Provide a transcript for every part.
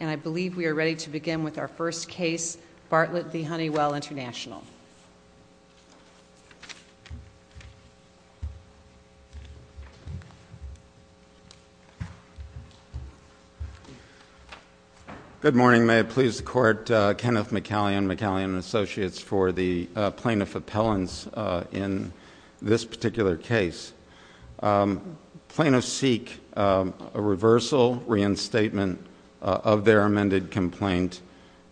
And I believe we are ready to begin with our first case, Bartlett v. Honeywell International. Good morning, may it please the court. Kenneth McCallion, McCallion & Associates for the plaintiff appellants in this particular case. Plaintiffs seek a reversal, reinstatement of their amended complaint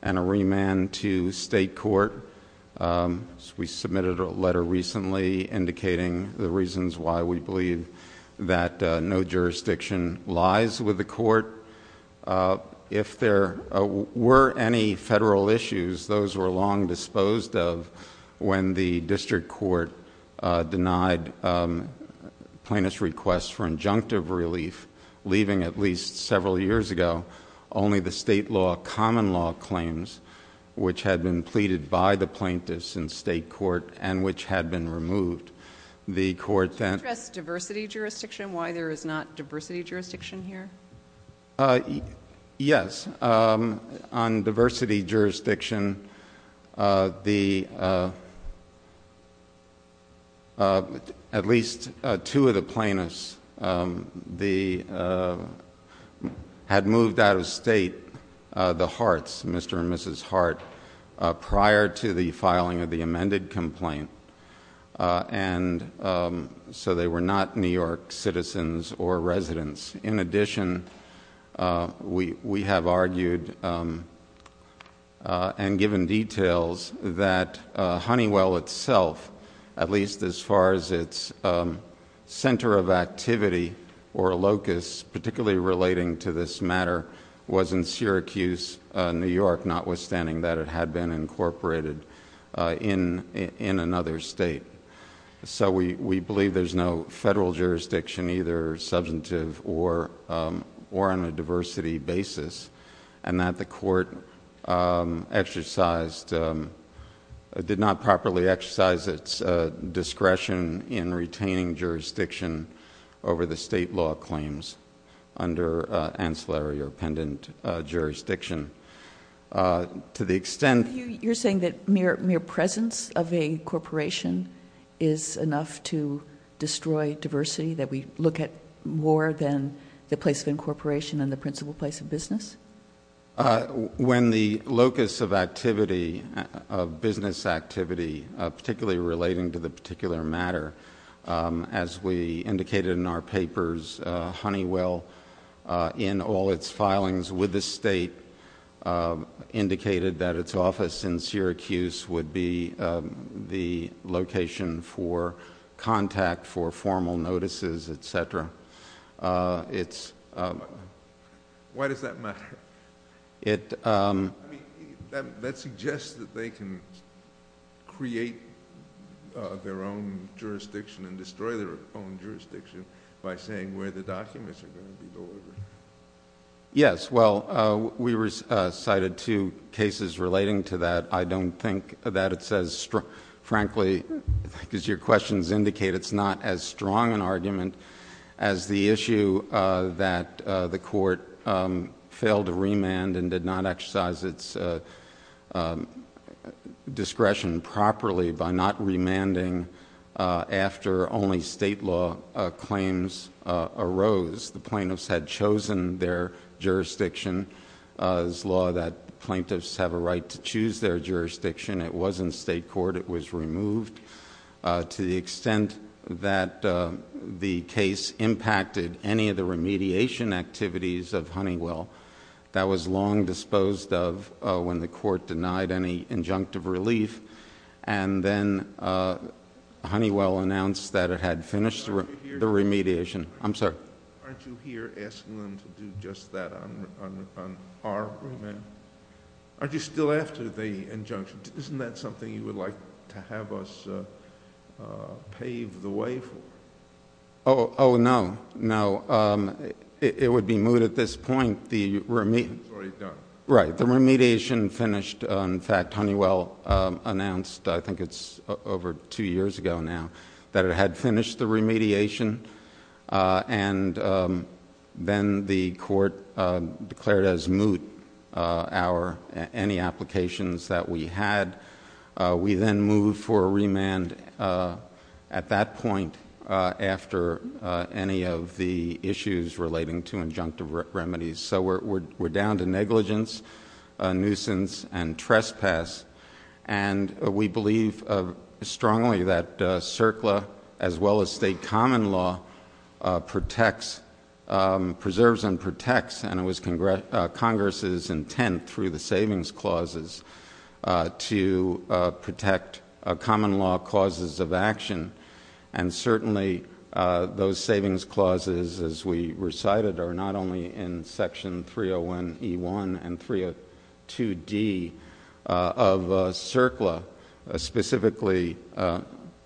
and a remand to state court. We submitted a letter recently indicating the reasons why we believe that no jurisdiction lies with the court. If there were any federal issues, those were long disposed of when the district court denied plaintiffs' requests for injunctive relief, leaving at least several years ago only the state law common law claims which had been pleaded by the plaintiffs in state court and which had been removed. Could you address diversity jurisdiction, why there is not diversity jurisdiction here? Yes, on diversity jurisdiction, at least two of the plaintiffs had moved out of state, the Harts, Mr. and Mrs. Hart, prior to the filing of the amended complaint. And so they were not New York citizens or residents. In addition, we have argued and given details that Honeywell itself, at least as far as its center of activity or locus, particularly relating to this matter, was in Syracuse, New York, notwithstanding that it had been incorporated in another state. So we believe there's no federal jurisdiction, either substantive or on a diversity basis, and that the court exercised, did not properly exercise its discretion in retaining jurisdiction over the state law claims under ancillary or pendent jurisdiction. To the extent- You're saying that mere presence of a corporation is enough to destroy diversity, that we look at more than the place of incorporation and the principal place of business? When the locus of activity, of business activity, particularly relating to the particular matter, as we indicated in our papers, Honeywell, in all its filings with the state, indicated that its office in Syracuse would be the location for contact, for formal notices, etc. Why does that matter? That suggests that they can create their own jurisdiction and destroy their own jurisdiction by saying where the documents are going to be delivered. Yes. Well, we cited two cases relating to that. I don't think that it's as, frankly, as your questions indicate, it's not as strong an argument as the issue that the court failed to remand and did not exercise its discretion properly by not remanding after only state law claims arose. The plaintiffs had chosen their jurisdiction. It's law that plaintiffs have a right to choose their jurisdiction. It was in state court. It was removed. To the extent that the case impacted any of the remediation activities of Honeywell, that was long disposed of when the court denied any injunctive relief, and then Honeywell announced that it had finished the remediation. I'm sorry. Aren't you here asking them to do just that on our remand? Aren't you still after the injunction? Isn't that something you would like to have us pave the way for? Oh, no. No. It would be moot at this point. It's already done. Right. The remediation finished. In fact, Honeywell announced, I think it's over two years ago now, that it had finished the remediation, and then the court declared as moot any applications that we had. We then moved for a remand at that point after any of the issues relating to injunctive remedies. So we're down to negligence, nuisance, and trespass, and we believe strongly that CERCLA, as well as state common law, preserves and protects, and it was Congress's intent through the savings clauses, to protect common law causes of action. And certainly those savings clauses, as we recited, are not only in Section 301E1 and 302D of CERCLA, specifically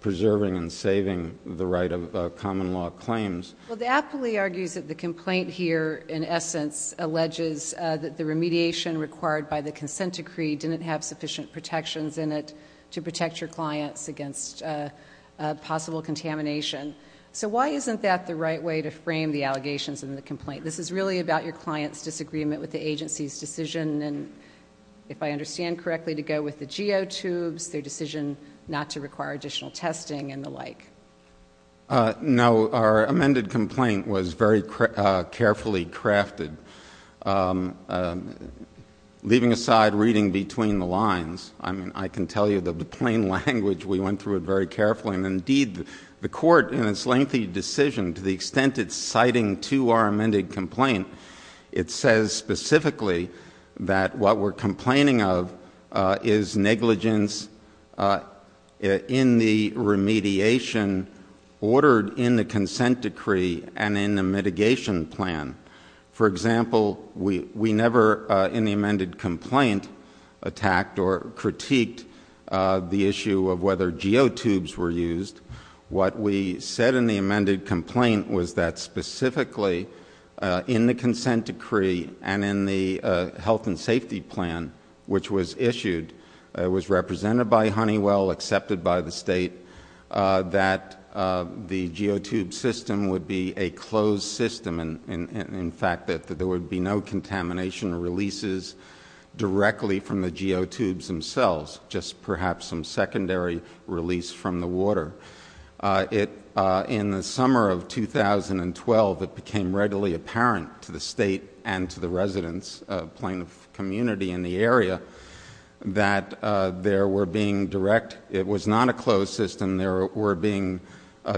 preserving and saving the right of common law claims. Well, the appellee argues that the complaint here, in essence, alleges that the remediation required by the consent decree didn't have sufficient protections in it to protect your clients against possible contamination. So why isn't that the right way to frame the allegations in the complaint? This is really about your client's disagreement with the agency's decision, and if I understand correctly, to go with the geotubes, their decision not to require additional testing and the like. No. Our amended complaint was very carefully crafted, leaving aside reading between the lines. I mean, I can tell you that the plain language, we went through it very carefully. And indeed, the court, in its lengthy decision, to the extent it's citing to our amended complaint, it says specifically that what we're complaining of is negligence in the remediation ordered in the consent decree and in the mitigation plan. For example, we never in the amended complaint attacked or critiqued the issue of whether geotubes were used. What we said in the amended complaint was that specifically in the consent decree and in the health and safety plan which was issued, it was represented by Honeywell, accepted by the state, that the geotube system would be a closed system and, in fact, that there would be no contamination releases directly from the geotubes themselves, just perhaps some secondary release from the water. In the summer of 2012, it became readily apparent to the state and to the residents, plain of community in the area, that there were being direct it was not a closed system, there were being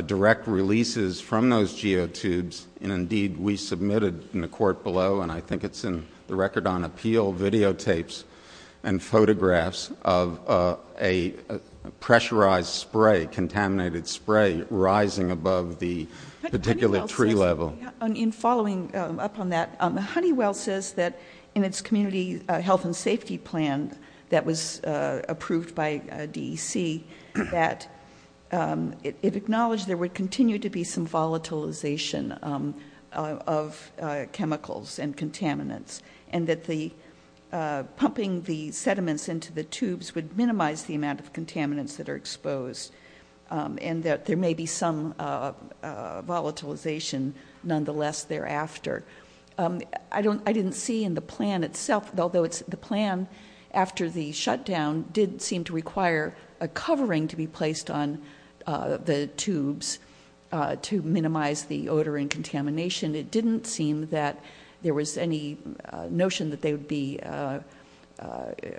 direct releases from those geotubes. Indeed, we submitted in the court below, and I think it's in the record on appeal, videotapes and photographs of a pressurized spray, contaminated spray rising above the particular tree level. In following up on that, Honeywell says that in its community health and safety plan that was approved by DEC that it acknowledged there would continue to be some volatilization of chemicals and contaminants and that pumping the sediments into the tubes would minimize the amount of contaminants that are exposed and that there may be some volatilization nonetheless thereafter. I didn't see in the plan itself, although the plan after the shutdown did seem to require a covering to be placed on the tubes to minimize the odor and contamination, it didn't seem that there was any notion that they would be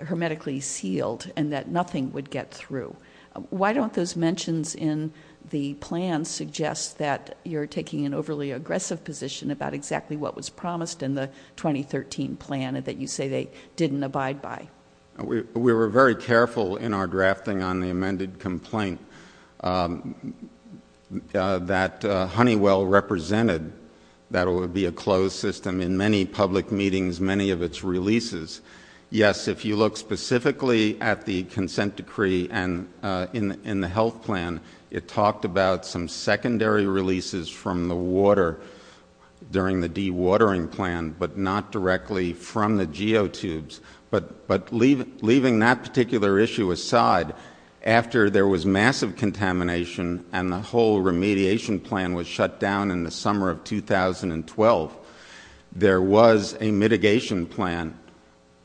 hermetically sealed and that nothing would get through. Why don't those mentions in the plan suggest that you're taking an overly aggressive position about exactly what was promised in the 2013 plan that you say they didn't abide by? We were very careful in our drafting on the amended complaint that Honeywell represented that it would be a closed system in many public meetings, many of its releases. Yes, if you look specifically at the consent decree and in the health plan, it talked about some secondary releases from the water during the dewatering plan but not directly from the geotubes. But leaving that particular issue aside, after there was massive contamination and the whole remediation plan was shut down in the summer of 2012, there was a mitigation plan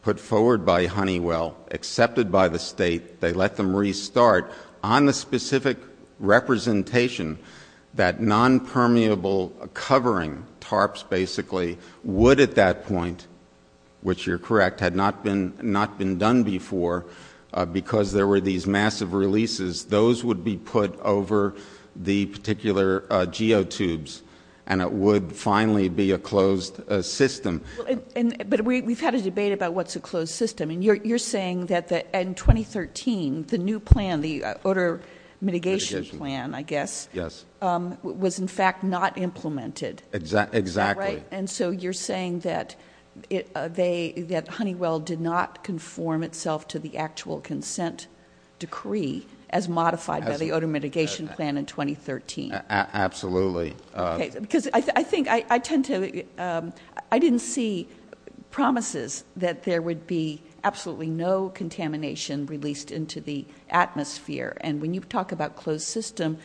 put forward by Honeywell, accepted by the state. They let them restart. On the specific representation, that nonpermeable covering, tarps basically, would at that point, which you're correct, had not been done before because there were these massive releases, those would be put over the particular geotubes and it would finally be a closed system. But we've had a debate about what's a closed system, and you're saying that in 2013, the new plan, the odor mitigation plan, I guess, was in fact not implemented. Exactly. And so you're saying that Honeywell did not conform itself to the actual consent decree as modified by the odor mitigation plan in 2013. Absolutely. Because I think I tend to, I didn't see promises that there would be absolutely no contamination released into the atmosphere. And when you talk about closed system,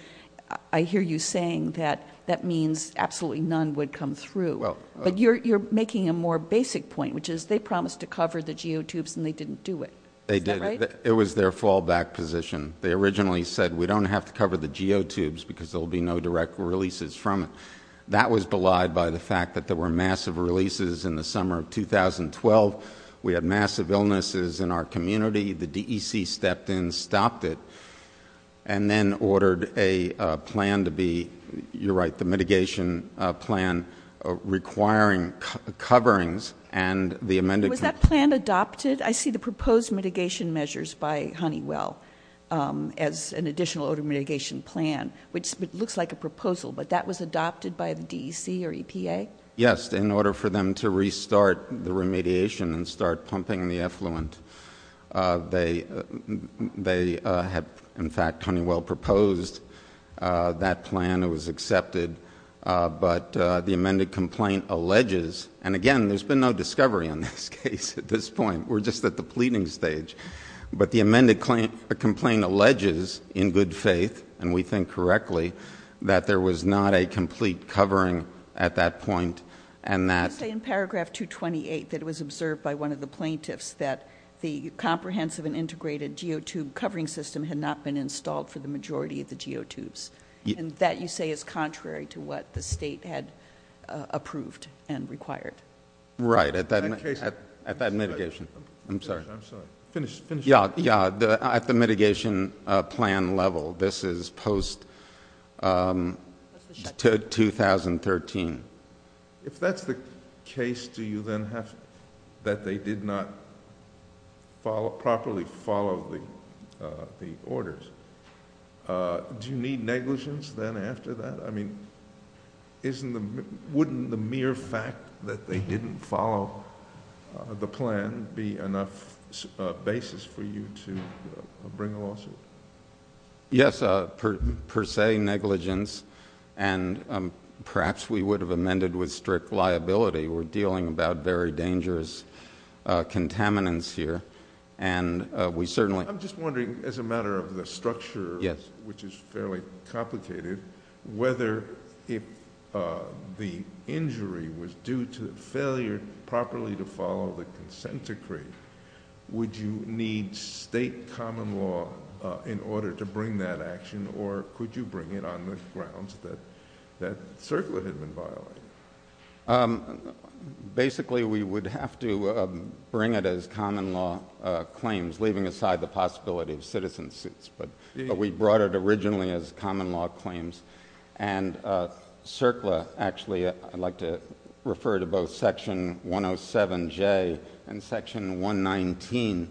I hear you saying that that means absolutely none would come through. But you're making a more basic point, which is they promised to cover the geotubes and they didn't do it. They did. It was their fallback position. They originally said we don't have to cover the geotubes because there will be no direct releases from it. That was belied by the fact that there were massive releases in the summer of 2012. We had massive illnesses in our community. The DEC stepped in, stopped it, and then ordered a plan to be, you're right, the mitigation plan requiring coverings. Was that plan adopted? I see the proposed mitigation measures by Honeywell as an additional odor mitigation plan, which looks like a proposal, but that was adopted by the DEC or EPA? Yes, in order for them to restart the remediation and start pumping the effluent. They had, in fact, Honeywell proposed that plan. It was accepted. But the amended complaint alleges, and again, there's been no discovery on this case at this point. We're just at the pleading stage. But the amended complaint alleges in good faith, and we think correctly, that there was not a complete covering at that point and that. You say in paragraph 228 that it was observed by one of the plaintiffs that the comprehensive and integrated geotube covering system had not been installed for the majority of the geotubes. That you say is contrary to what the state had approved and required. Right, at that mitigation. I'm sorry. Finish. Yeah, at the mitigation plan level. This is post-2013. If that's the case, do you then have that they did not properly follow the orders? Do you need negligence then after that? I mean, wouldn't the mere fact that they didn't follow the plan be enough basis for you to bring a lawsuit? Yes, per se negligence. And perhaps we would have amended with strict liability. We're dealing about very dangerous contaminants here. I'm just wondering, as a matter of the structure, which is fairly complicated, whether if the injury was due to failure properly to follow the consent decree, would you need state common law in order to bring that action, or could you bring it on the grounds that that circular had been violated? Basically, we would have to bring it as common law claims, leaving aside the possibility of citizen suits. But we brought it originally as common law claims. And circular, actually, I'd like to refer to both section 107J and section 119,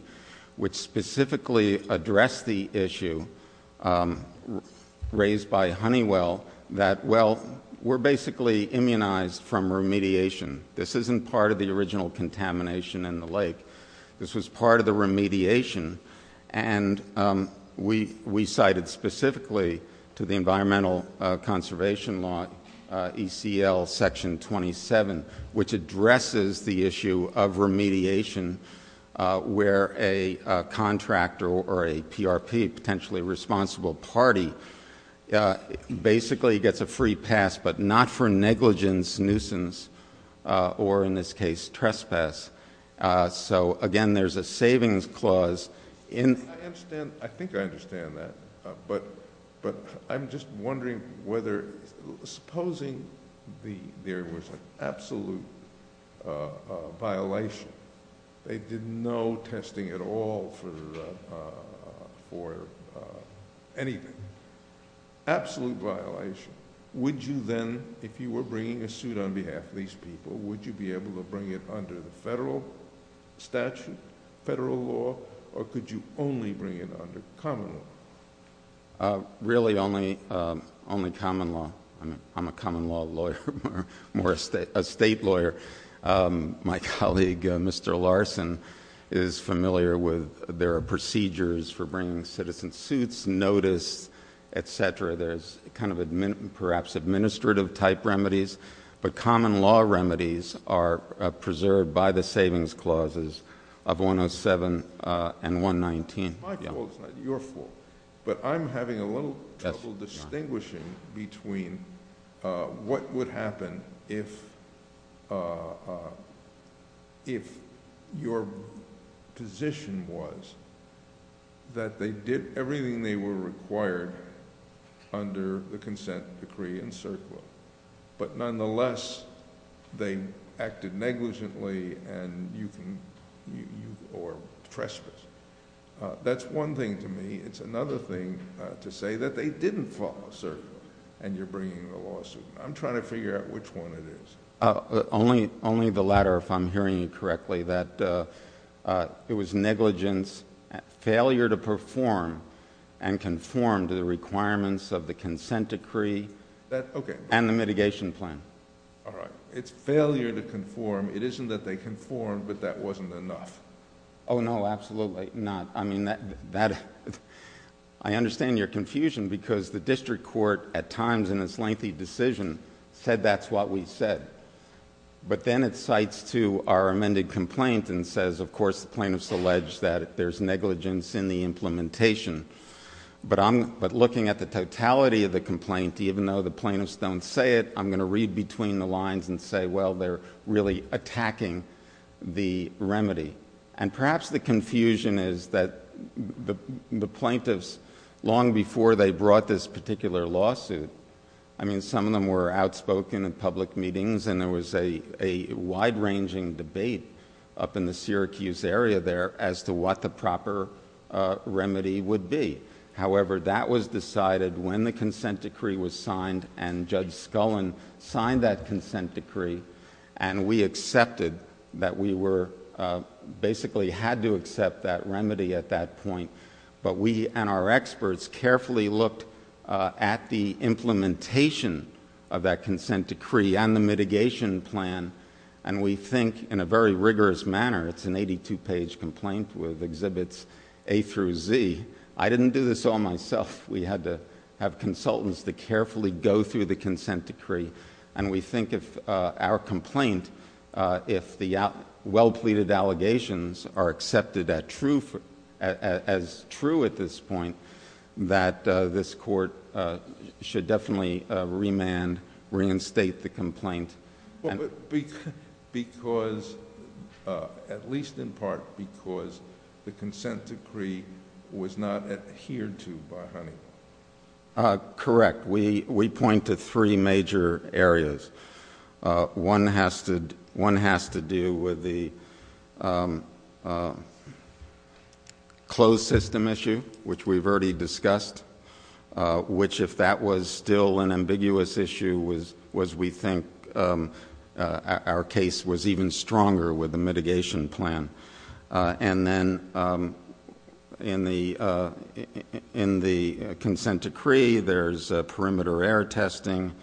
which specifically address the issue raised by Honeywell, that, well, we're basically immunized from remediation. This isn't part of the original contamination in the lake. This was part of the remediation. And we cited specifically to the Environmental Conservation Law ECL section 27, which addresses the issue of remediation where a contractor or a PRP, potentially a responsible party, basically gets a free pass, but not for negligence, nuisance, or, in this case, trespass. So, again, there's a savings clause. I think I understand that. But I'm just wondering whether, supposing there was an absolute violation, they did no testing at all for anything, absolute violation, would you then, if you were bringing a suit on behalf of these people, would you be able to bring it under the federal statute, federal law, or could you only bring it under common law? Really only common law. I'm a common law lawyer, more a state lawyer. My colleague, Mr. Larson, is familiar with there are procedures for bringing citizen suits, notice, et cetera. There's kind of perhaps administrative-type remedies, but common law remedies are preserved by the savings clauses of 107 and 119. My fault is not your fault, but I'm having a little trouble distinguishing between what would happen if your position was that they did everything they were required under the consent decree in CERCLA, but nonetheless they acted negligently or trespassed. That's one thing to me. It's another thing to say that they didn't follow CERCLA and you're bringing a lawsuit. I'm trying to figure out which one it is. Only the latter, if I'm hearing you correctly, that it was negligence, failure to perform and conform to the requirements of the consent decree and the mitigation plan. All right. It's failure to conform. It isn't that they conformed, but that wasn't enough. Oh, no, absolutely not. I understand your confusion because the district court at times in its lengthy decision said that's what we said, but then it cites to our amended complaint and says, of course, the plaintiffs allege that there's negligence in the implementation, but looking at the totality of the complaint, even though the plaintiffs don't say it, I'm going to read between the lines and say, well, they're really attacking the remedy. Perhaps the confusion is that the plaintiffs, long before they brought this particular lawsuit, some of them were outspoken in public meetings and there was a wide-ranging debate up in the Syracuse area there as to what the proper remedy would be. However, that was decided when the consent decree was signed and Judge Scullin signed that consent decree and we accepted that we basically had to accept that remedy at that point, but we and our experts carefully looked at the implementation of that consent decree and the mitigation plan and we think in a very rigorous manner, it's an eighty-two page complaint with exhibits A through Z. I didn't do this all myself. We had to have consultants to carefully go through the consent decree and we think if our complaint, if the well-pleaded allegations are accepted as true at this point, that this court should definitely remand, reinstate the complaint. At least in part because the consent decree was not adhered to by Honeywell. Correct. We point to three major areas. One has to do with the closed system issue, which we've already discussed, which if that was still an ambiguous issue, was we think our case was even stronger with the mitigation plan. Then in the consent decree, there's perimeter error testing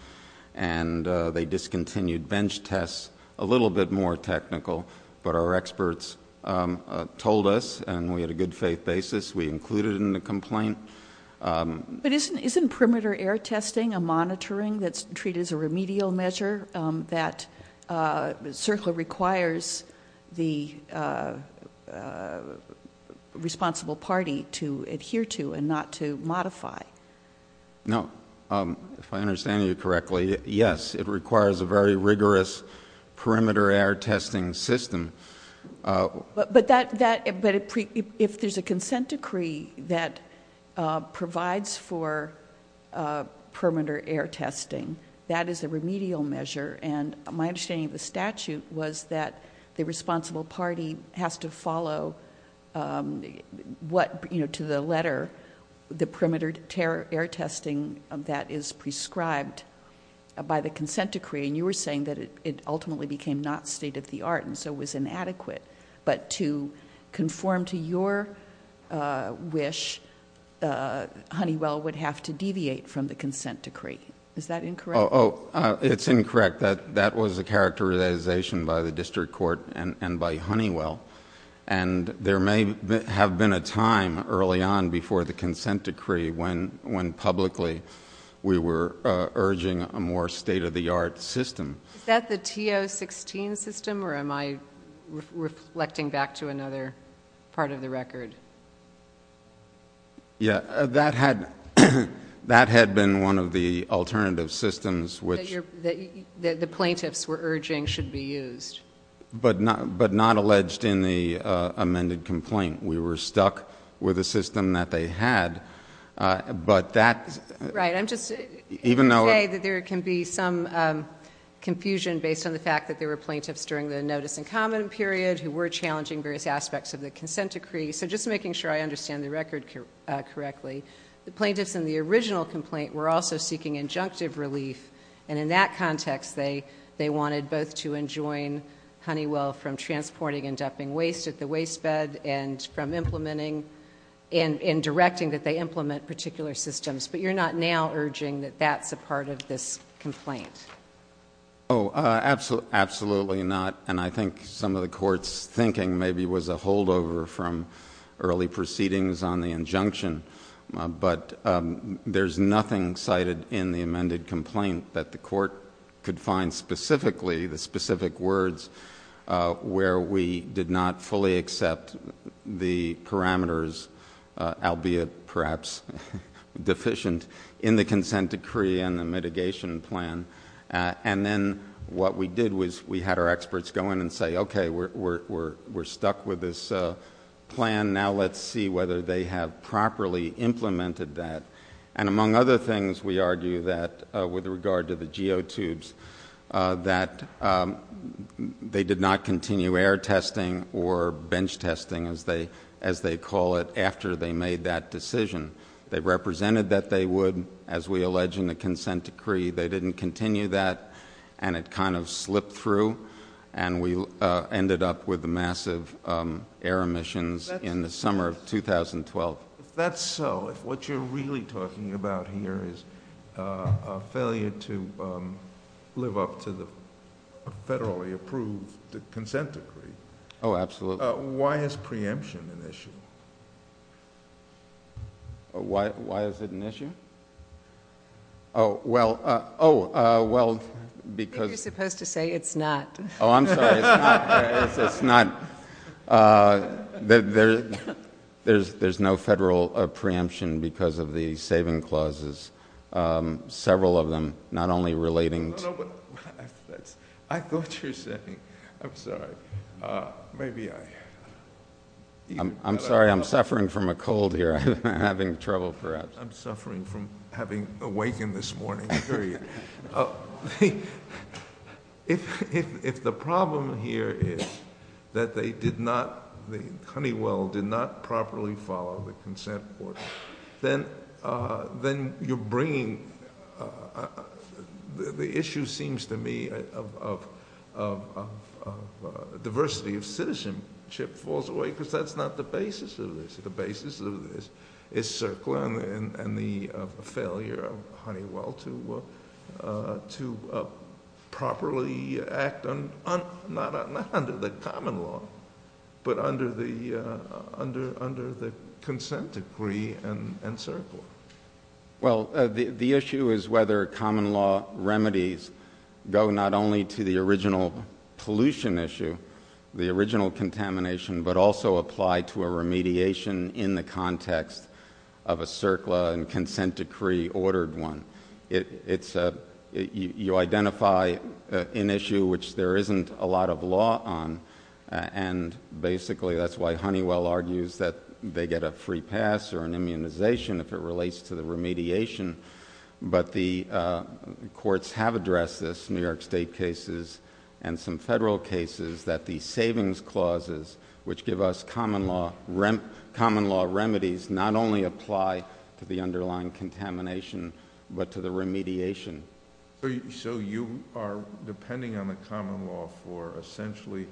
and they discontinued bench tests, a little bit more technical, but our experts told us and we had a good faith basis. We included it in the complaint. But isn't perimeter error testing a monitoring that's treated as a remedial measure that certainly requires the responsible party to adhere to and not to modify? No. If I understand you correctly, yes. It requires a very rigorous perimeter error testing system. But if there's a consent decree that provides for perimeter error testing, that is a remedial measure and my understanding of the statute was that the responsible party has to follow what, to the letter, the perimeter error testing that is prescribed by the consent decree and you were saying that it ultimately became not state of the art and so was inadequate, but to conform to your wish, Honeywell would have to deviate from the consent decree. Is that incorrect? It's incorrect. That was a characterization by the district court and by Honeywell. There may have been a time early on before the consent decree when publicly we were urging a more state of the art system. Is that the T-016 system or am I reflecting back to another part of the record? Yeah, that had been one of the alternative systems which... That the plaintiffs were urging should be used. But not alleged in the amended complaint. We were stuck with a system that they had, but that... Right, I'm just going to say that there can be some confusion based on the fact that there were plaintiffs during the notice and comment period who were challenging various aspects of the consent decree. So just making sure I understand the record correctly, the plaintiffs in the original complaint were also seeking injunctive relief and in that context they wanted both to enjoin Honeywell from transporting and dumping waste at the waste bed and from implementing and directing that they implement particular systems. But you're not now urging that that's a part of this complaint? Oh, absolutely not. And I think some of the court's thinking maybe was a holdover from early proceedings on the injunction. But there's nothing cited in the amended complaint that the court could find specifically, the specific words, where we did not fully accept the parameters, albeit perhaps deficient, in the consent decree and the mitigation plan. And then what we did was we had our experts go in and say, okay, we're stuck with this plan, now let's see whether they have properly implemented that. And among other things, we argue that with regard to the geotubes, that they did not continue air testing or bench testing, as they call it, after they made that decision. They represented that they would, as we allege in the consent decree. They didn't continue that and it kind of slipped through and we ended up with massive air emissions in the summer of 2012. If that's so, if what you're really talking about here is a failure to live up to the federally approved consent decree. Oh, absolutely. Why is preemption an issue? Why is it an issue? Oh, well, because. I think you're supposed to say it's not. Oh, I'm sorry, it's not. There's no federal preemption because of the saving clauses, several of them, not only relating to. I thought you were saying, I'm sorry, maybe I. I'm sorry, I'm suffering from a cold here. I'm having trouble perhaps. I'm suffering from having awakened this morning, period. If the problem here is that they did not, the Honeywell did not properly follow the consent order, then you're bringing. The issue seems to me of diversity of citizenship falls away because that's not the basis of this. The basis of this is circling and the failure of Honeywell to properly act, not under the common law, but under the consent decree and circle. Well, the issue is whether common law remedies go not only to the original pollution issue, the original contamination, but also apply to a remediation in the context of a circle and consent decree ordered one. You identify an issue which there isn't a lot of law on, and basically that's why Honeywell argues that they get a free pass or an immunization if it relates to the remediation, but the courts have addressed this, New York State cases and some federal cases that the savings clauses which give us common law remedies not only apply to the underlying contamination, but to the remediation. So you are depending on the common law for essentially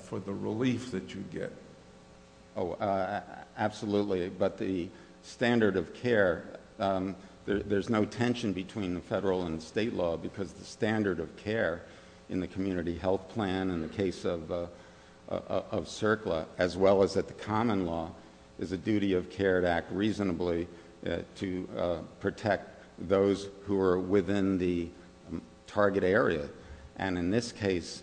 for the relief that you get. Oh, absolutely, but the standard of care, there's no tension between the federal and state law because the standard of care in the community health plan in the case of CERCLA, as well as at the common law, is a duty of care to act reasonably to protect those who are within the target area. And in this case,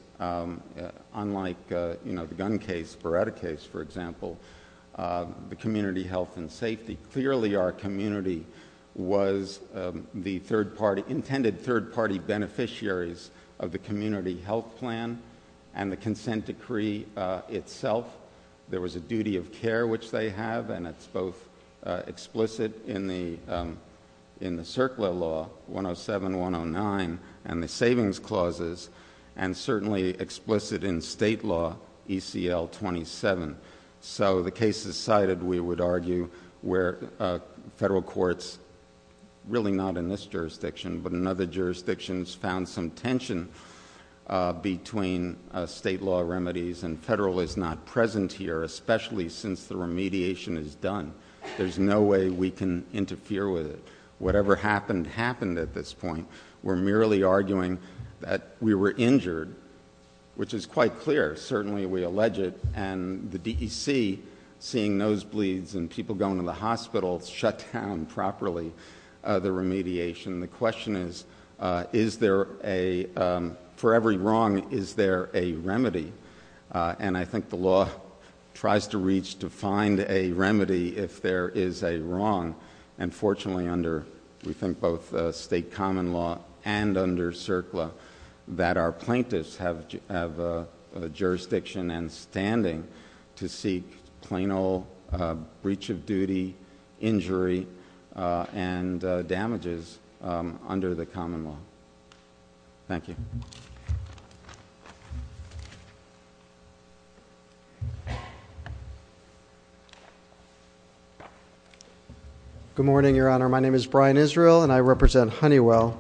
unlike the gun case, the Beretta case, for example, the community health and safety, clearly our community was the third party, the third party beneficiaries of the community health plan and the consent decree itself. There was a duty of care which they have, and it's both explicit in the CERCLA law, 107-109, and the savings clauses, and certainly explicit in state law, ECL 27. So the cases cited, we would argue, where federal courts, really not in this jurisdiction, but in other jurisdictions, found some tension between state law remedies, and federal is not present here, especially since the remediation is done. There's no way we can interfere with it. Whatever happened, happened at this point. We're merely arguing that we were injured, which is quite clear, certainly we allege it, and the DEC, seeing nosebleeds and people going to the hospital, shut down properly the remediation. The question is, is there a... For every wrong, is there a remedy? And I think the law tries to reach, to find a remedy if there is a wrong, and fortunately under, we think, both state common law and under CERCLA, that our plaintiffs have a jurisdiction and standing to seek plain old breach of duty injury and damages under the common law. Thank you. Good morning, Your Honor. My name is Brian Israel, and I represent Honeywell.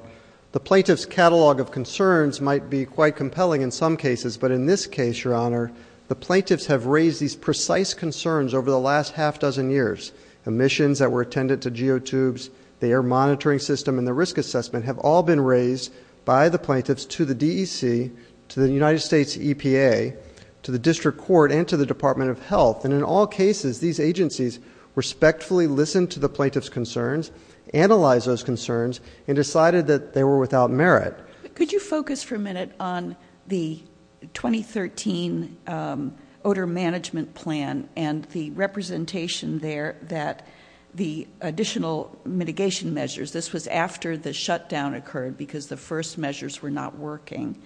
The plaintiff's catalog of concerns might be quite compelling in some cases, but in this case, Your Honor, the plaintiffs have raised these precise concerns over the last half-dozen years. Emissions that were attended to geotubes, the air monitoring system, and the risk assessment have all been raised by the plaintiffs to the DEC, to the United States EPA, to the district court, and to the Department of Health, and in all cases, these agencies respectfully listened to the plaintiff's concerns, analyzed those concerns, and decided that they were without merit. Could you focus for a minute on the 2013 odor management plan and the representation there that the additional mitigation measures, this was after the shutdown occurred because the first measures were not working,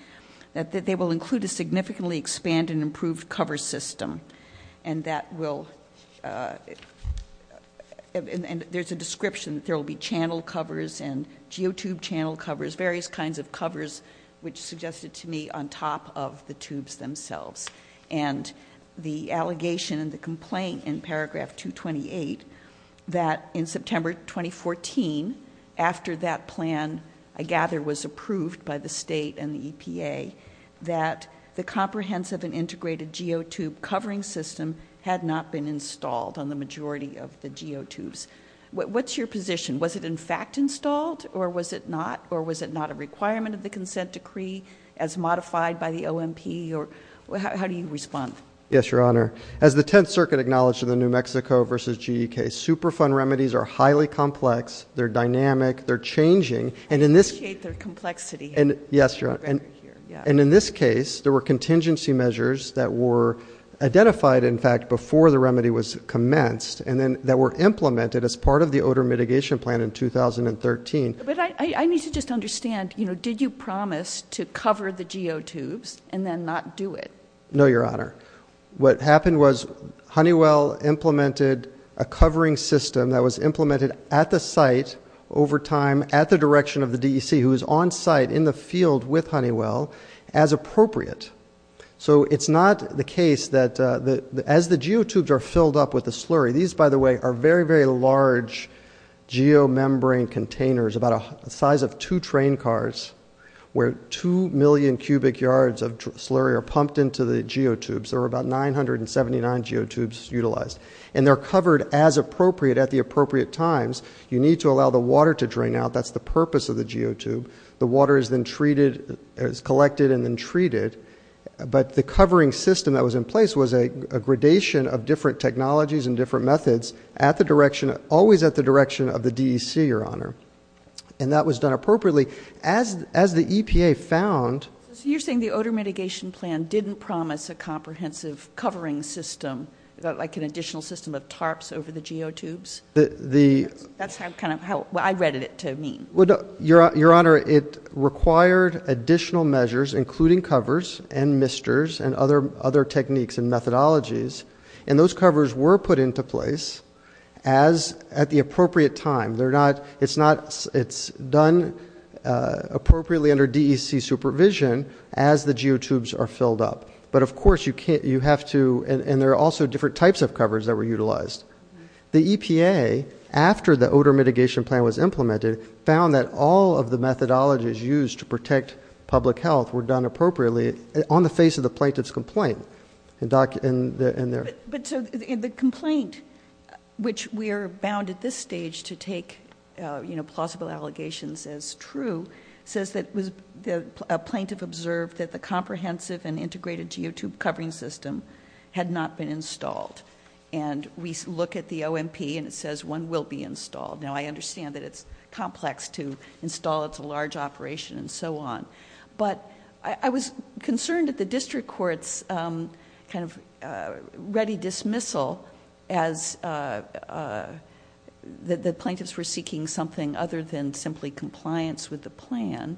that they will include a significantly expanded and improved cover system, and that will... And there's a description that there will be channel covers and geotube channel covers, various kinds of covers, which suggested to me on top of the tubes themselves. And the allegation and the complaint in paragraph 228 that in September 2014, after that plan, I gather, was approved by the state and the EPA, that the comprehensive and integrated geotube covering system had not been installed on the majority of the geotubes. What's your position? Was it in fact installed, or was it not? Or was it not a requirement of the consent decree as modified by the OMP? How do you respond? Yes, Your Honor. As the Tenth Circuit acknowledged in the New Mexico v. G.E.K., Superfund remedies are highly complex, they're dynamic, they're changing, and in this... I appreciate their complexity. Yes, Your Honor. And in this case, there were contingency measures that were identified, in fact, before the remedy was commenced and then that were implemented as part of the odor mitigation plan in 2013. But I need to just understand, you know, did you promise to cover the geotubes and then not do it? No, Your Honor. What happened was Honeywell implemented a covering system that was implemented at the site, over time, at the direction of the DEC, who was on site in the field with Honeywell, as appropriate. So it's not the case that as the geotubes are filled up with the slurry... These, by the way, are very, very large geomembrane containers, about the size of two train cars, where 2 million cubic yards of slurry are pumped into the geotubes. There were about 979 geotubes utilized. And they're covered as appropriate at the appropriate times. You need to allow the water to drain out. That's the purpose of the geotube. The water is then treated, is collected and then treated. But the covering system that was in place was a gradation of different technologies and different methods at the direction, always at the direction of the DEC, Your Honor. And that was done appropriately. As the EPA found... So you're saying the odor mitigation plan didn't promise a comprehensive covering system, like an additional system of tarps over the geotubes? That's kind of what I read it to mean. Your Honor, it required additional measures, including covers and misters and other techniques and methodologies. And those covers were put into place at the appropriate time. It's done appropriately under DEC supervision as the geotubes are filled up. But of course you have to... And there are also different types of covers that were utilized. The EPA, after the odor mitigation plan was implemented, found that all of the methodologies used to protect public health were done appropriately on the face of the plaintiff's complaint. And there... But the complaint, which we are bound at this stage to take plausible allegations as true, says that a plaintiff observed that the comprehensive and integrated geotube covering system had not been installed. And we look at the OMP and it says one will be installed. Now, I understand that it's complex to install. It's a large operation and so on. But I was concerned at the district court's kind of ready dismissal as the plaintiffs were seeking something other than simply compliance with the plan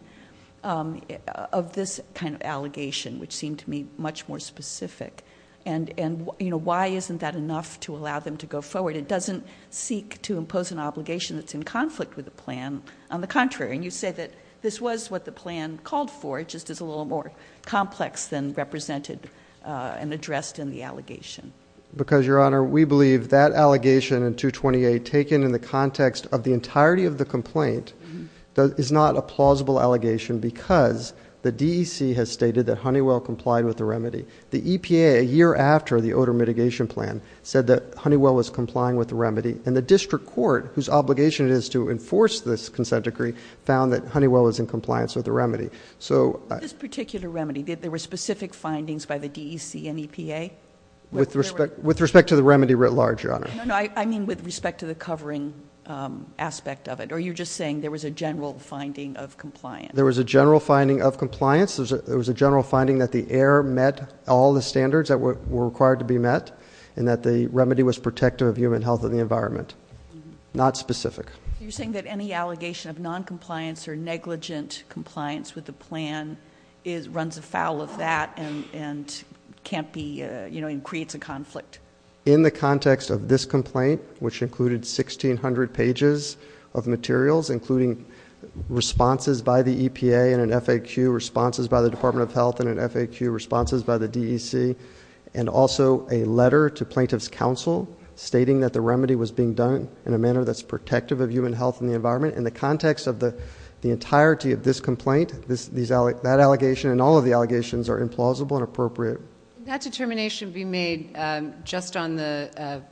of this kind of allegation, which seemed to me much more specific. And, you know, why isn't that enough to allow them to go forward? It doesn't seek to impose an obligation that's in conflict with the plan. On the contrary, and you say that this was what the plan called for, it just is a little more complex than represented and addressed in the allegation. Because, Your Honor, we believe that allegation in 228, taken in the context of the entirety of the complaint, is not a plausible allegation because the DEC has stated that Honeywell complied with the remedy. The EPA, a year after the odor mitigation plan, said that Honeywell was complying with the remedy. And the district court, whose obligation it is to enforce this consent decree, found that Honeywell was in compliance with the remedy. This particular remedy, there were specific findings by the DEC and EPA? With respect to the remedy writ large, Your Honor. No, no, I mean with respect to the covering aspect of it. Or are you just saying there was a general finding of compliance? There was a general finding of compliance. There was a general finding that the air met all the standards that were required to be met and that the remedy was protective of human health and the environment. Not specific. You're saying that any allegation of noncompliance or negligent compliance with the plan runs afoul of that and creates a conflict? In the context of this complaint, which included 1,600 pages of materials, including responses by the EPA and an FAQ, responses by the Department of Health and an FAQ, responses by the DEC, and also a letter to plaintiff's counsel stating that the remedy was being done in a manner that's protective of human health and the environment. In the context of the entirety of this complaint, that allegation and all of the allegations are implausible and appropriate. Can that determination be made just on the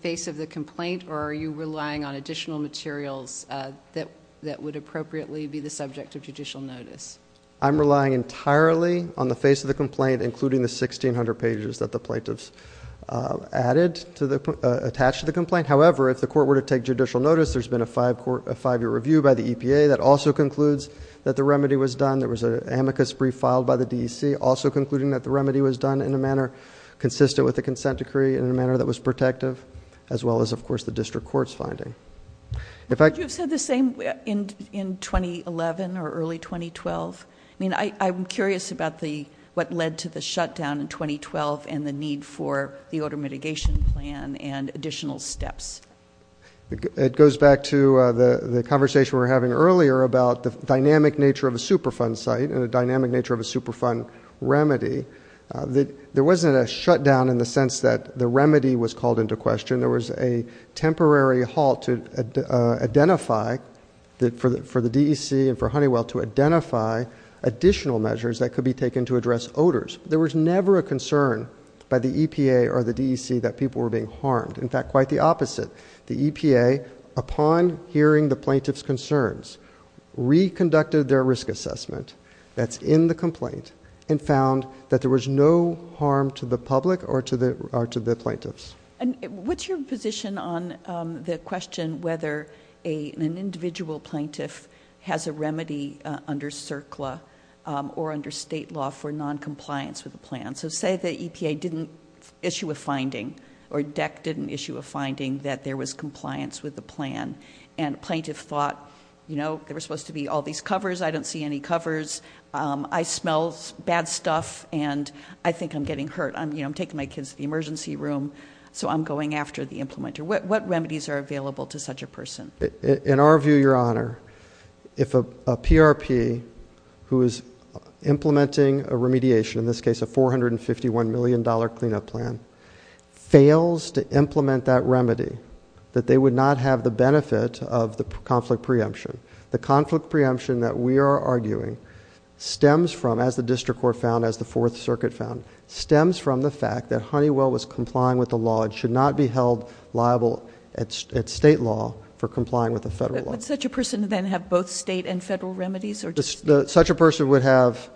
face of the complaint, or are you relying on additional materials that would appropriately be the subject of judicial notice? I'm relying entirely on the face of the complaint, including the 1,600 pages that the plaintiffs added to the... attached to the complaint. However, if the court were to take judicial notice, there's been a five-year review by the EPA that also concludes that the remedy was done. There was an amicus brief filed by the DEC also concluding that the remedy was done in a manner consistent with the consent decree and in a manner that was protective, as well as, of course, the district court's finding. Would you have said the same in 2011 or early 2012? I'm curious about what led to the shutdown in 2012 and the need for the odor mitigation plan and additional steps. It goes back to the conversation we were having earlier about the dynamic nature of a Superfund site and the dynamic nature of a Superfund remedy. There wasn't a shutdown in the sense that the remedy was called into question. There was a temporary halt for the DEC and for Honeywell to identify additional measures that could be taken to address odors. There was never a concern by the EPA or the DEC that people were being harmed. In fact, quite the opposite. The EPA, upon hearing the plaintiffs' concerns, reconducted their risk assessment that's in the complaint and found that there was no harm to the public or to the plaintiffs. What's your position on the question whether an individual plaintiff has a remedy under CERCLA or under state law for noncompliance with a plan? Say the EPA didn't issue a finding or DEC didn't issue a finding that there was compliance with the plan and a plaintiff thought there were supposed to be all these covers. I don't see any covers. I smell bad stuff, and I think I'm getting hurt. I'm taking my kids to the emergency room, so I'm going after the implementer. What remedies are available to such a person? In our view, Your Honor, if a PRP who is implementing a remediation, in this case a $451 million cleanup plan, fails to implement that remedy, that they would not have the benefit of the conflict preemption. The conflict preemption that we are arguing stems from, as the district court found, as the Fourth Circuit found, stems from the fact that Honeywell was complying with the law and should not be held liable at state law for complying with the federal law. Would such a person then have both state and federal remedies? Such a person would have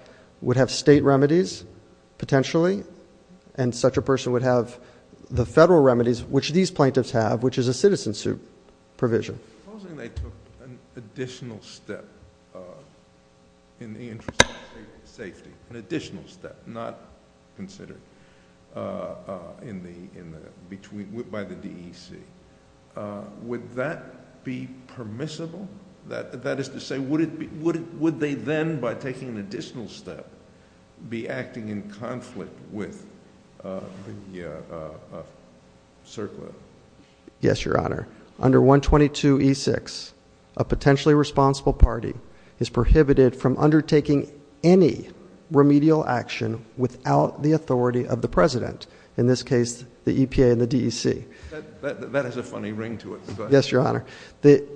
state remedies, potentially, and such a person would have the federal remedies, which these plaintiffs have, which is a citizen suit provision. Supposing they took an additional step in the interest of safety, an additional step not considered by the DEC, would that be permissible? That is to say, would they then, by taking an additional step, be acting in conflict with the circuit? Yes, Your Honor. Under 122E6, a potentially responsible party is prohibited from undertaking any remedial action without the authority of the president, in this case the EPA and the DEC. That has a funny ring to it. Yes, Your Honor.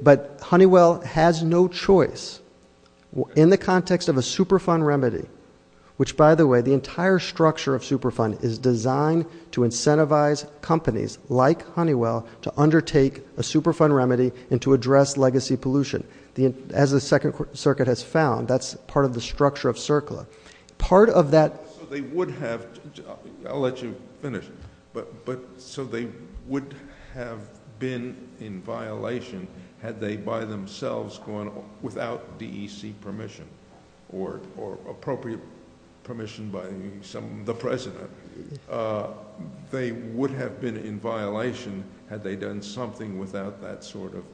But Honeywell has no choice. In the context of a Superfund remedy, which, by the way, the entire structure of Superfund is designed to incentivize companies like Honeywell to undertake a Superfund remedy and to address legacy pollution. As the Second Circuit has found, that's part of the structure of CERCLA. Part of that – So they would have – I'll let you finish. So they would have been in violation had they by themselves gone without DEC permission or appropriate permission by the president. They would have been in violation had they done something without that sort of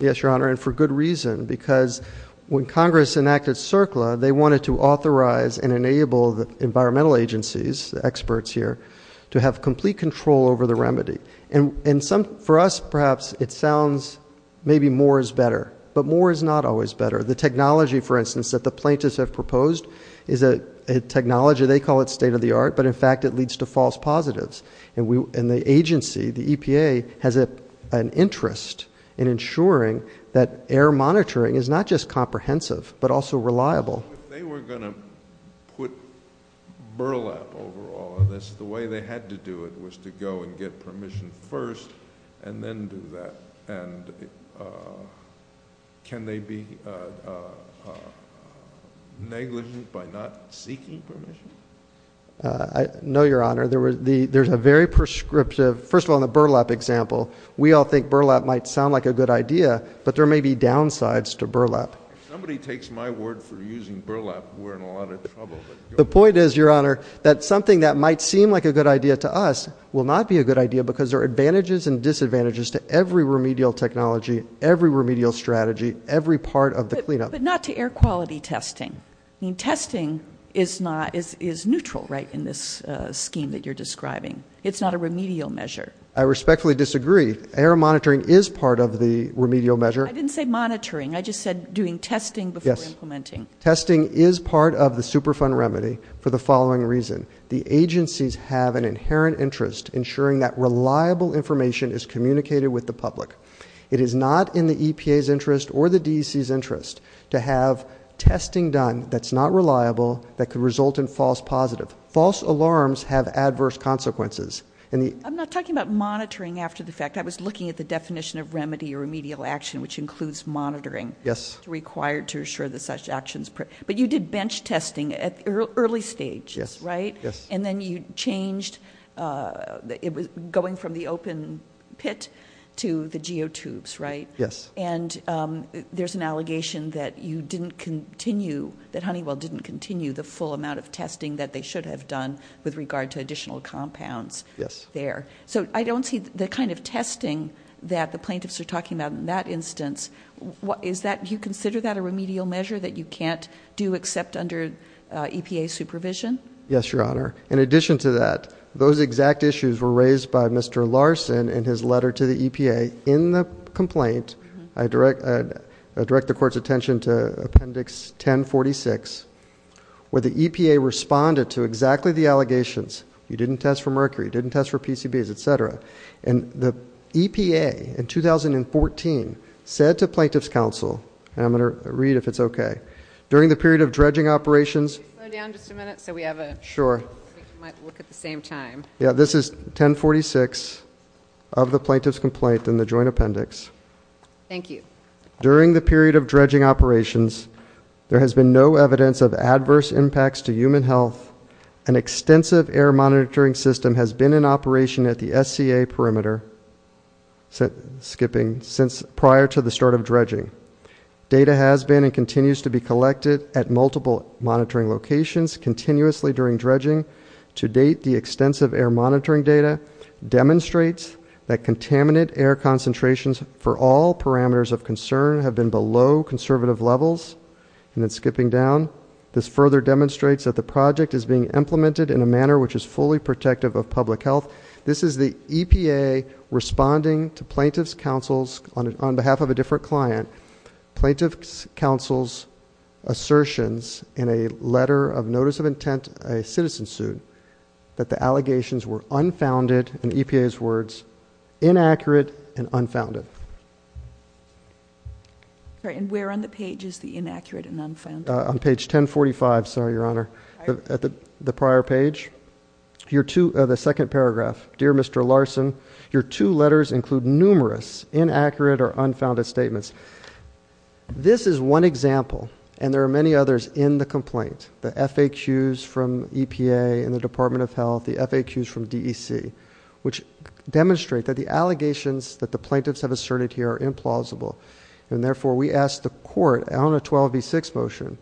Yes, Your Honor, and for good reason, because when Congress enacted CERCLA, they wanted to authorize and enable the environmental agencies, the experts here, to have complete control over the remedy. For us, perhaps, it sounds maybe more is better, but more is not always better. The technology, for instance, that the plaintiffs have proposed is a technology. They call it state-of-the-art, but, in fact, it leads to false positives. And the agency, the EPA, has an interest in ensuring that air monitoring is not just comprehensive but also reliable. If they were going to put burlap over all of this, the way they had to do it was to go and get permission first and then do that. And can they be negligent by not seeking permission? No, Your Honor. There's a very prescriptive, first of all, in the burlap example, we all think burlap might sound like a good idea, but there may be downsides to burlap. If somebody takes my word for using burlap, we're in a lot of trouble. The point is, Your Honor, that something that might seem like a good idea to us will not be a good idea because there are advantages and disadvantages to every remedial technology, every remedial strategy, every part of the cleanup. But not to air quality testing. Testing is neutral, right, in this scheme that you're describing. It's not a remedial measure. I respectfully disagree. Air monitoring is part of the remedial measure. I didn't say monitoring. I just said doing testing before implementing. Testing is part of the Superfund remedy for the following reason. The agencies have an inherent interest ensuring that reliable information is communicated with the public. It is not in the EPA's interest or the DEC's interest to have testing done that's not reliable that could result in false positive. False alarms have adverse consequences. I'm not talking about monitoring after the fact. I was looking at the definition of remedy or remedial action, which includes monitoring. Yes. It's required to assure that such action is prepared. But you did bench testing at the early stage, right? Yes. And then you changed going from the open pit to the geotubes, right? Yes. And there's an allegation that you didn't continue, that Honeywell didn't continue the full amount of testing that they should have done with regard to additional compounds there. Yes. So I don't see the kind of testing that the plaintiffs are talking about in that instance. Do you consider that a remedial measure that you can't do except under EPA supervision? Yes, Your Honor. In addition to that, those exact issues were raised by Mr. Larson in his letter to the EPA in the complaint. I direct the Court's attention to Appendix 1046, where the EPA responded to exactly the allegations. You didn't test for mercury. You didn't test for PCBs, et cetera. And the EPA, in 2014, said to Plaintiff's Counsel, and I'm going to read if it's okay, during the period of dredging operations. Can you slow down just a minute? Sure. We might look at the same time. Yeah, this is 1046 of the Plaintiff's Complaint in the Joint Appendix. Thank you. During the period of dredging operations, there has been no evidence of adverse impacts to human health. An extensive air monitoring system has been in operation at the SCA perimeter prior to the start of dredging. Data has been and continues to be collected at multiple monitoring locations continuously during dredging. To date, the extensive air monitoring data demonstrates that contaminant air concentrations for all parameters of concern have been below conservative levels. And then skipping down, this further demonstrates that the project is being implemented in a manner which is fully protective of public health. This is the EPA responding to Plaintiff's Counsel's, on behalf of a different client, Plaintiff's Counsel's assertions in a letter of notice of intent, a citizen suit, that the allegations were unfounded, in EPA's words, inaccurate and unfounded. And where on the page is the inaccurate and unfounded? On page 1045, sorry, Your Honor, the prior page. The second paragraph, Dear Mr. Larson, your two letters include numerous inaccurate or unfounded statements. This is one example, and there are many others in the complaint. The FAQs from EPA and the Department of Health, the FAQs from DEC, which demonstrate that the allegations that the plaintiffs have asserted here are implausible. And therefore, we ask the court on a 12v6 motion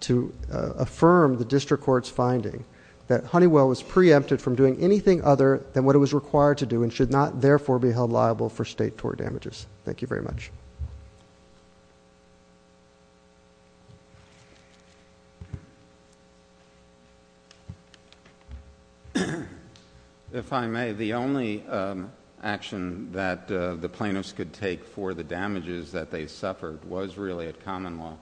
to affirm the district court's finding that Honeywell was preempted from doing anything other than what it was required to do and should not, therefore, be held liable for state tort damages. Thank you very much. If I may, the only action that the plaintiffs could take for the damages that they suffered was really at common law,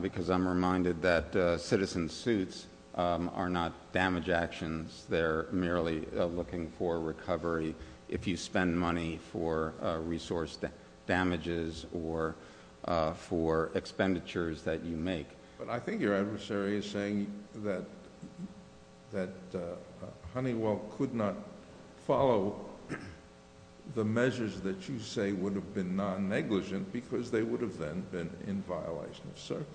because I'm reminded that citizen suits are not damage actions. They're merely looking for recovery if you spend money for resource damages or for expenditures that you make. But I think your adversary is saying that Honeywell could not follow the measures that you say would have been non-negligent because they would have then been in violation of circuit.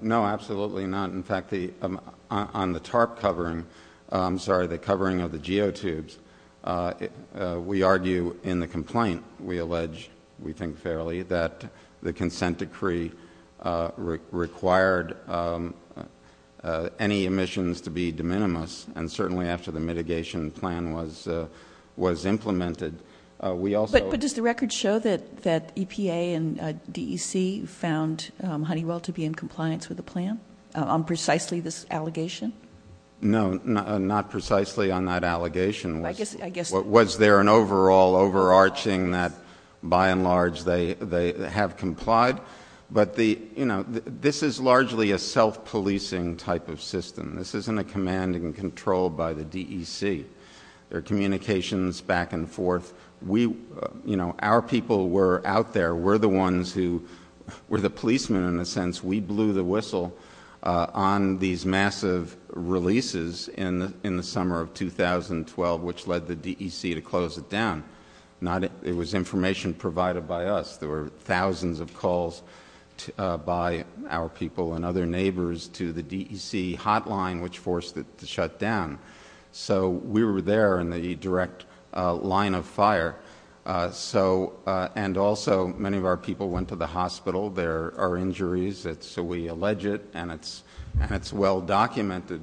No, absolutely not. In fact, on the tarp covering, I'm sorry, the covering of the geotubes, we argue in the complaint, we allege, we think fairly, that the consent decree required any emissions to be de minimis, and certainly after the mitigation plan was implemented, we also... But does the record show that EPA and DEC found Honeywell to be in violation of precisely this allegation? No, not precisely on that allegation. Was there an overall overarching that, by and large, they have complied? But this is largely a self-policing type of system. This isn't a command and control by the DEC. There are communications back and forth. Our people were out there. We're the ones who were the policemen, in a sense. We blew the whistle on these massive releases in the summer of 2012, which led the DEC to close it down. It was information provided by us. There were thousands of calls by our people and other neighbors to the DEC hotline, which forced it to shut down. So we were there in the direct line of fire. And also, many of our people went to the hospital. There are injuries, so we allege it, and it's well documented.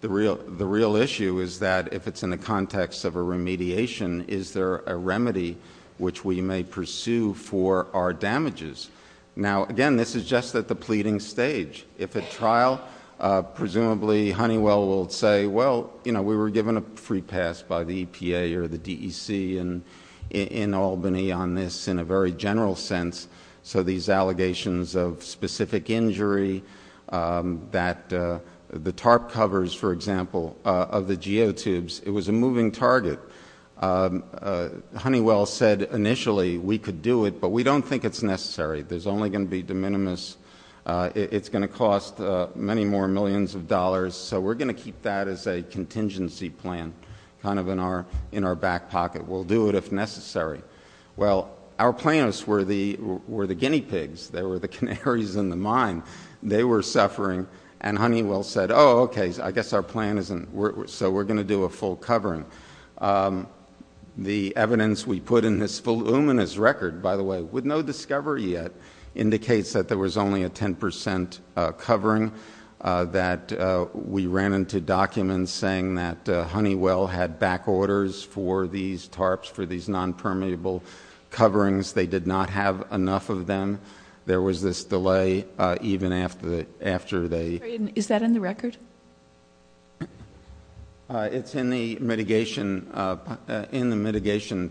The real issue is that, if it's in the context of a remediation, is there a remedy which we may pursue for our damages? Now, again, this is just at the pleading stage. If at trial, presumably Honeywell will say, well, we were given a free pass by the EPA or the DEC in Albany on this, in a very general sense. So these allegations of specific injury that the TARP covers, for example, of the geotubes, it was a moving target. Honeywell said initially we could do it, but we don't think it's necessary. There's only going to be de minimis. It's going to cost many more millions of dollars, so we're going to keep that as a contingency plan, kind of in our back pocket. We'll do it if necessary. Well, our planners were the guinea pigs. They were the canaries in the mine. They were suffering, and Honeywell said, oh, okay, I guess our plan isn't. So we're going to do a full covering. The evidence we put in this voluminous record, by the way, with no discovery yet, indicates that there was only a 10% covering, that we ran into documents saying that Honeywell had back orders for these TARPs, for these nonpermeable coverings. They did not have enough of them. There was this delay even after they ---- Is that in the record? It's in the mitigation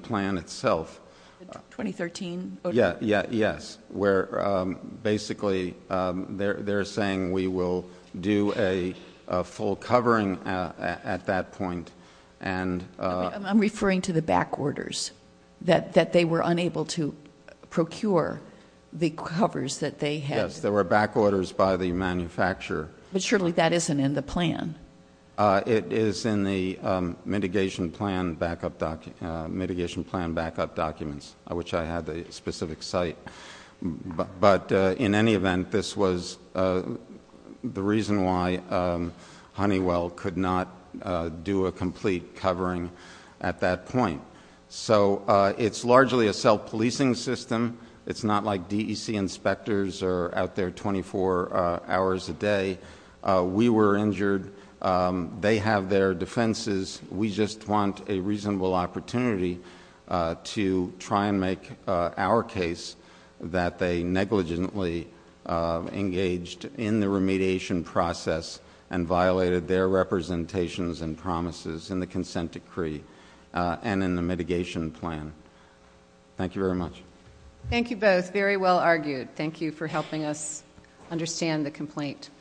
plan itself. The 2013? Yes, where basically they're saying we will do a full covering at that point. I'm referring to the back orders, that they were unable to procure the covers that they had. Yes, there were back orders by the manufacturer. But surely that isn't in the plan. It is in the mitigation plan backup documents, which I had the specific site. But in any event, this was the reason why Honeywell could not do a complete covering at that point. So it's largely a self-policing system. It's not like DEC inspectors are out there 24 hours a day. We were injured. They have their defenses. We just want a reasonable opportunity to try and make our case that they negligently engaged in the remediation process and violated their representations and promises in the consent decree and in the mitigation plan. Thank you very much. Thank you both. Very well argued. Thank you for helping us understand the complaint.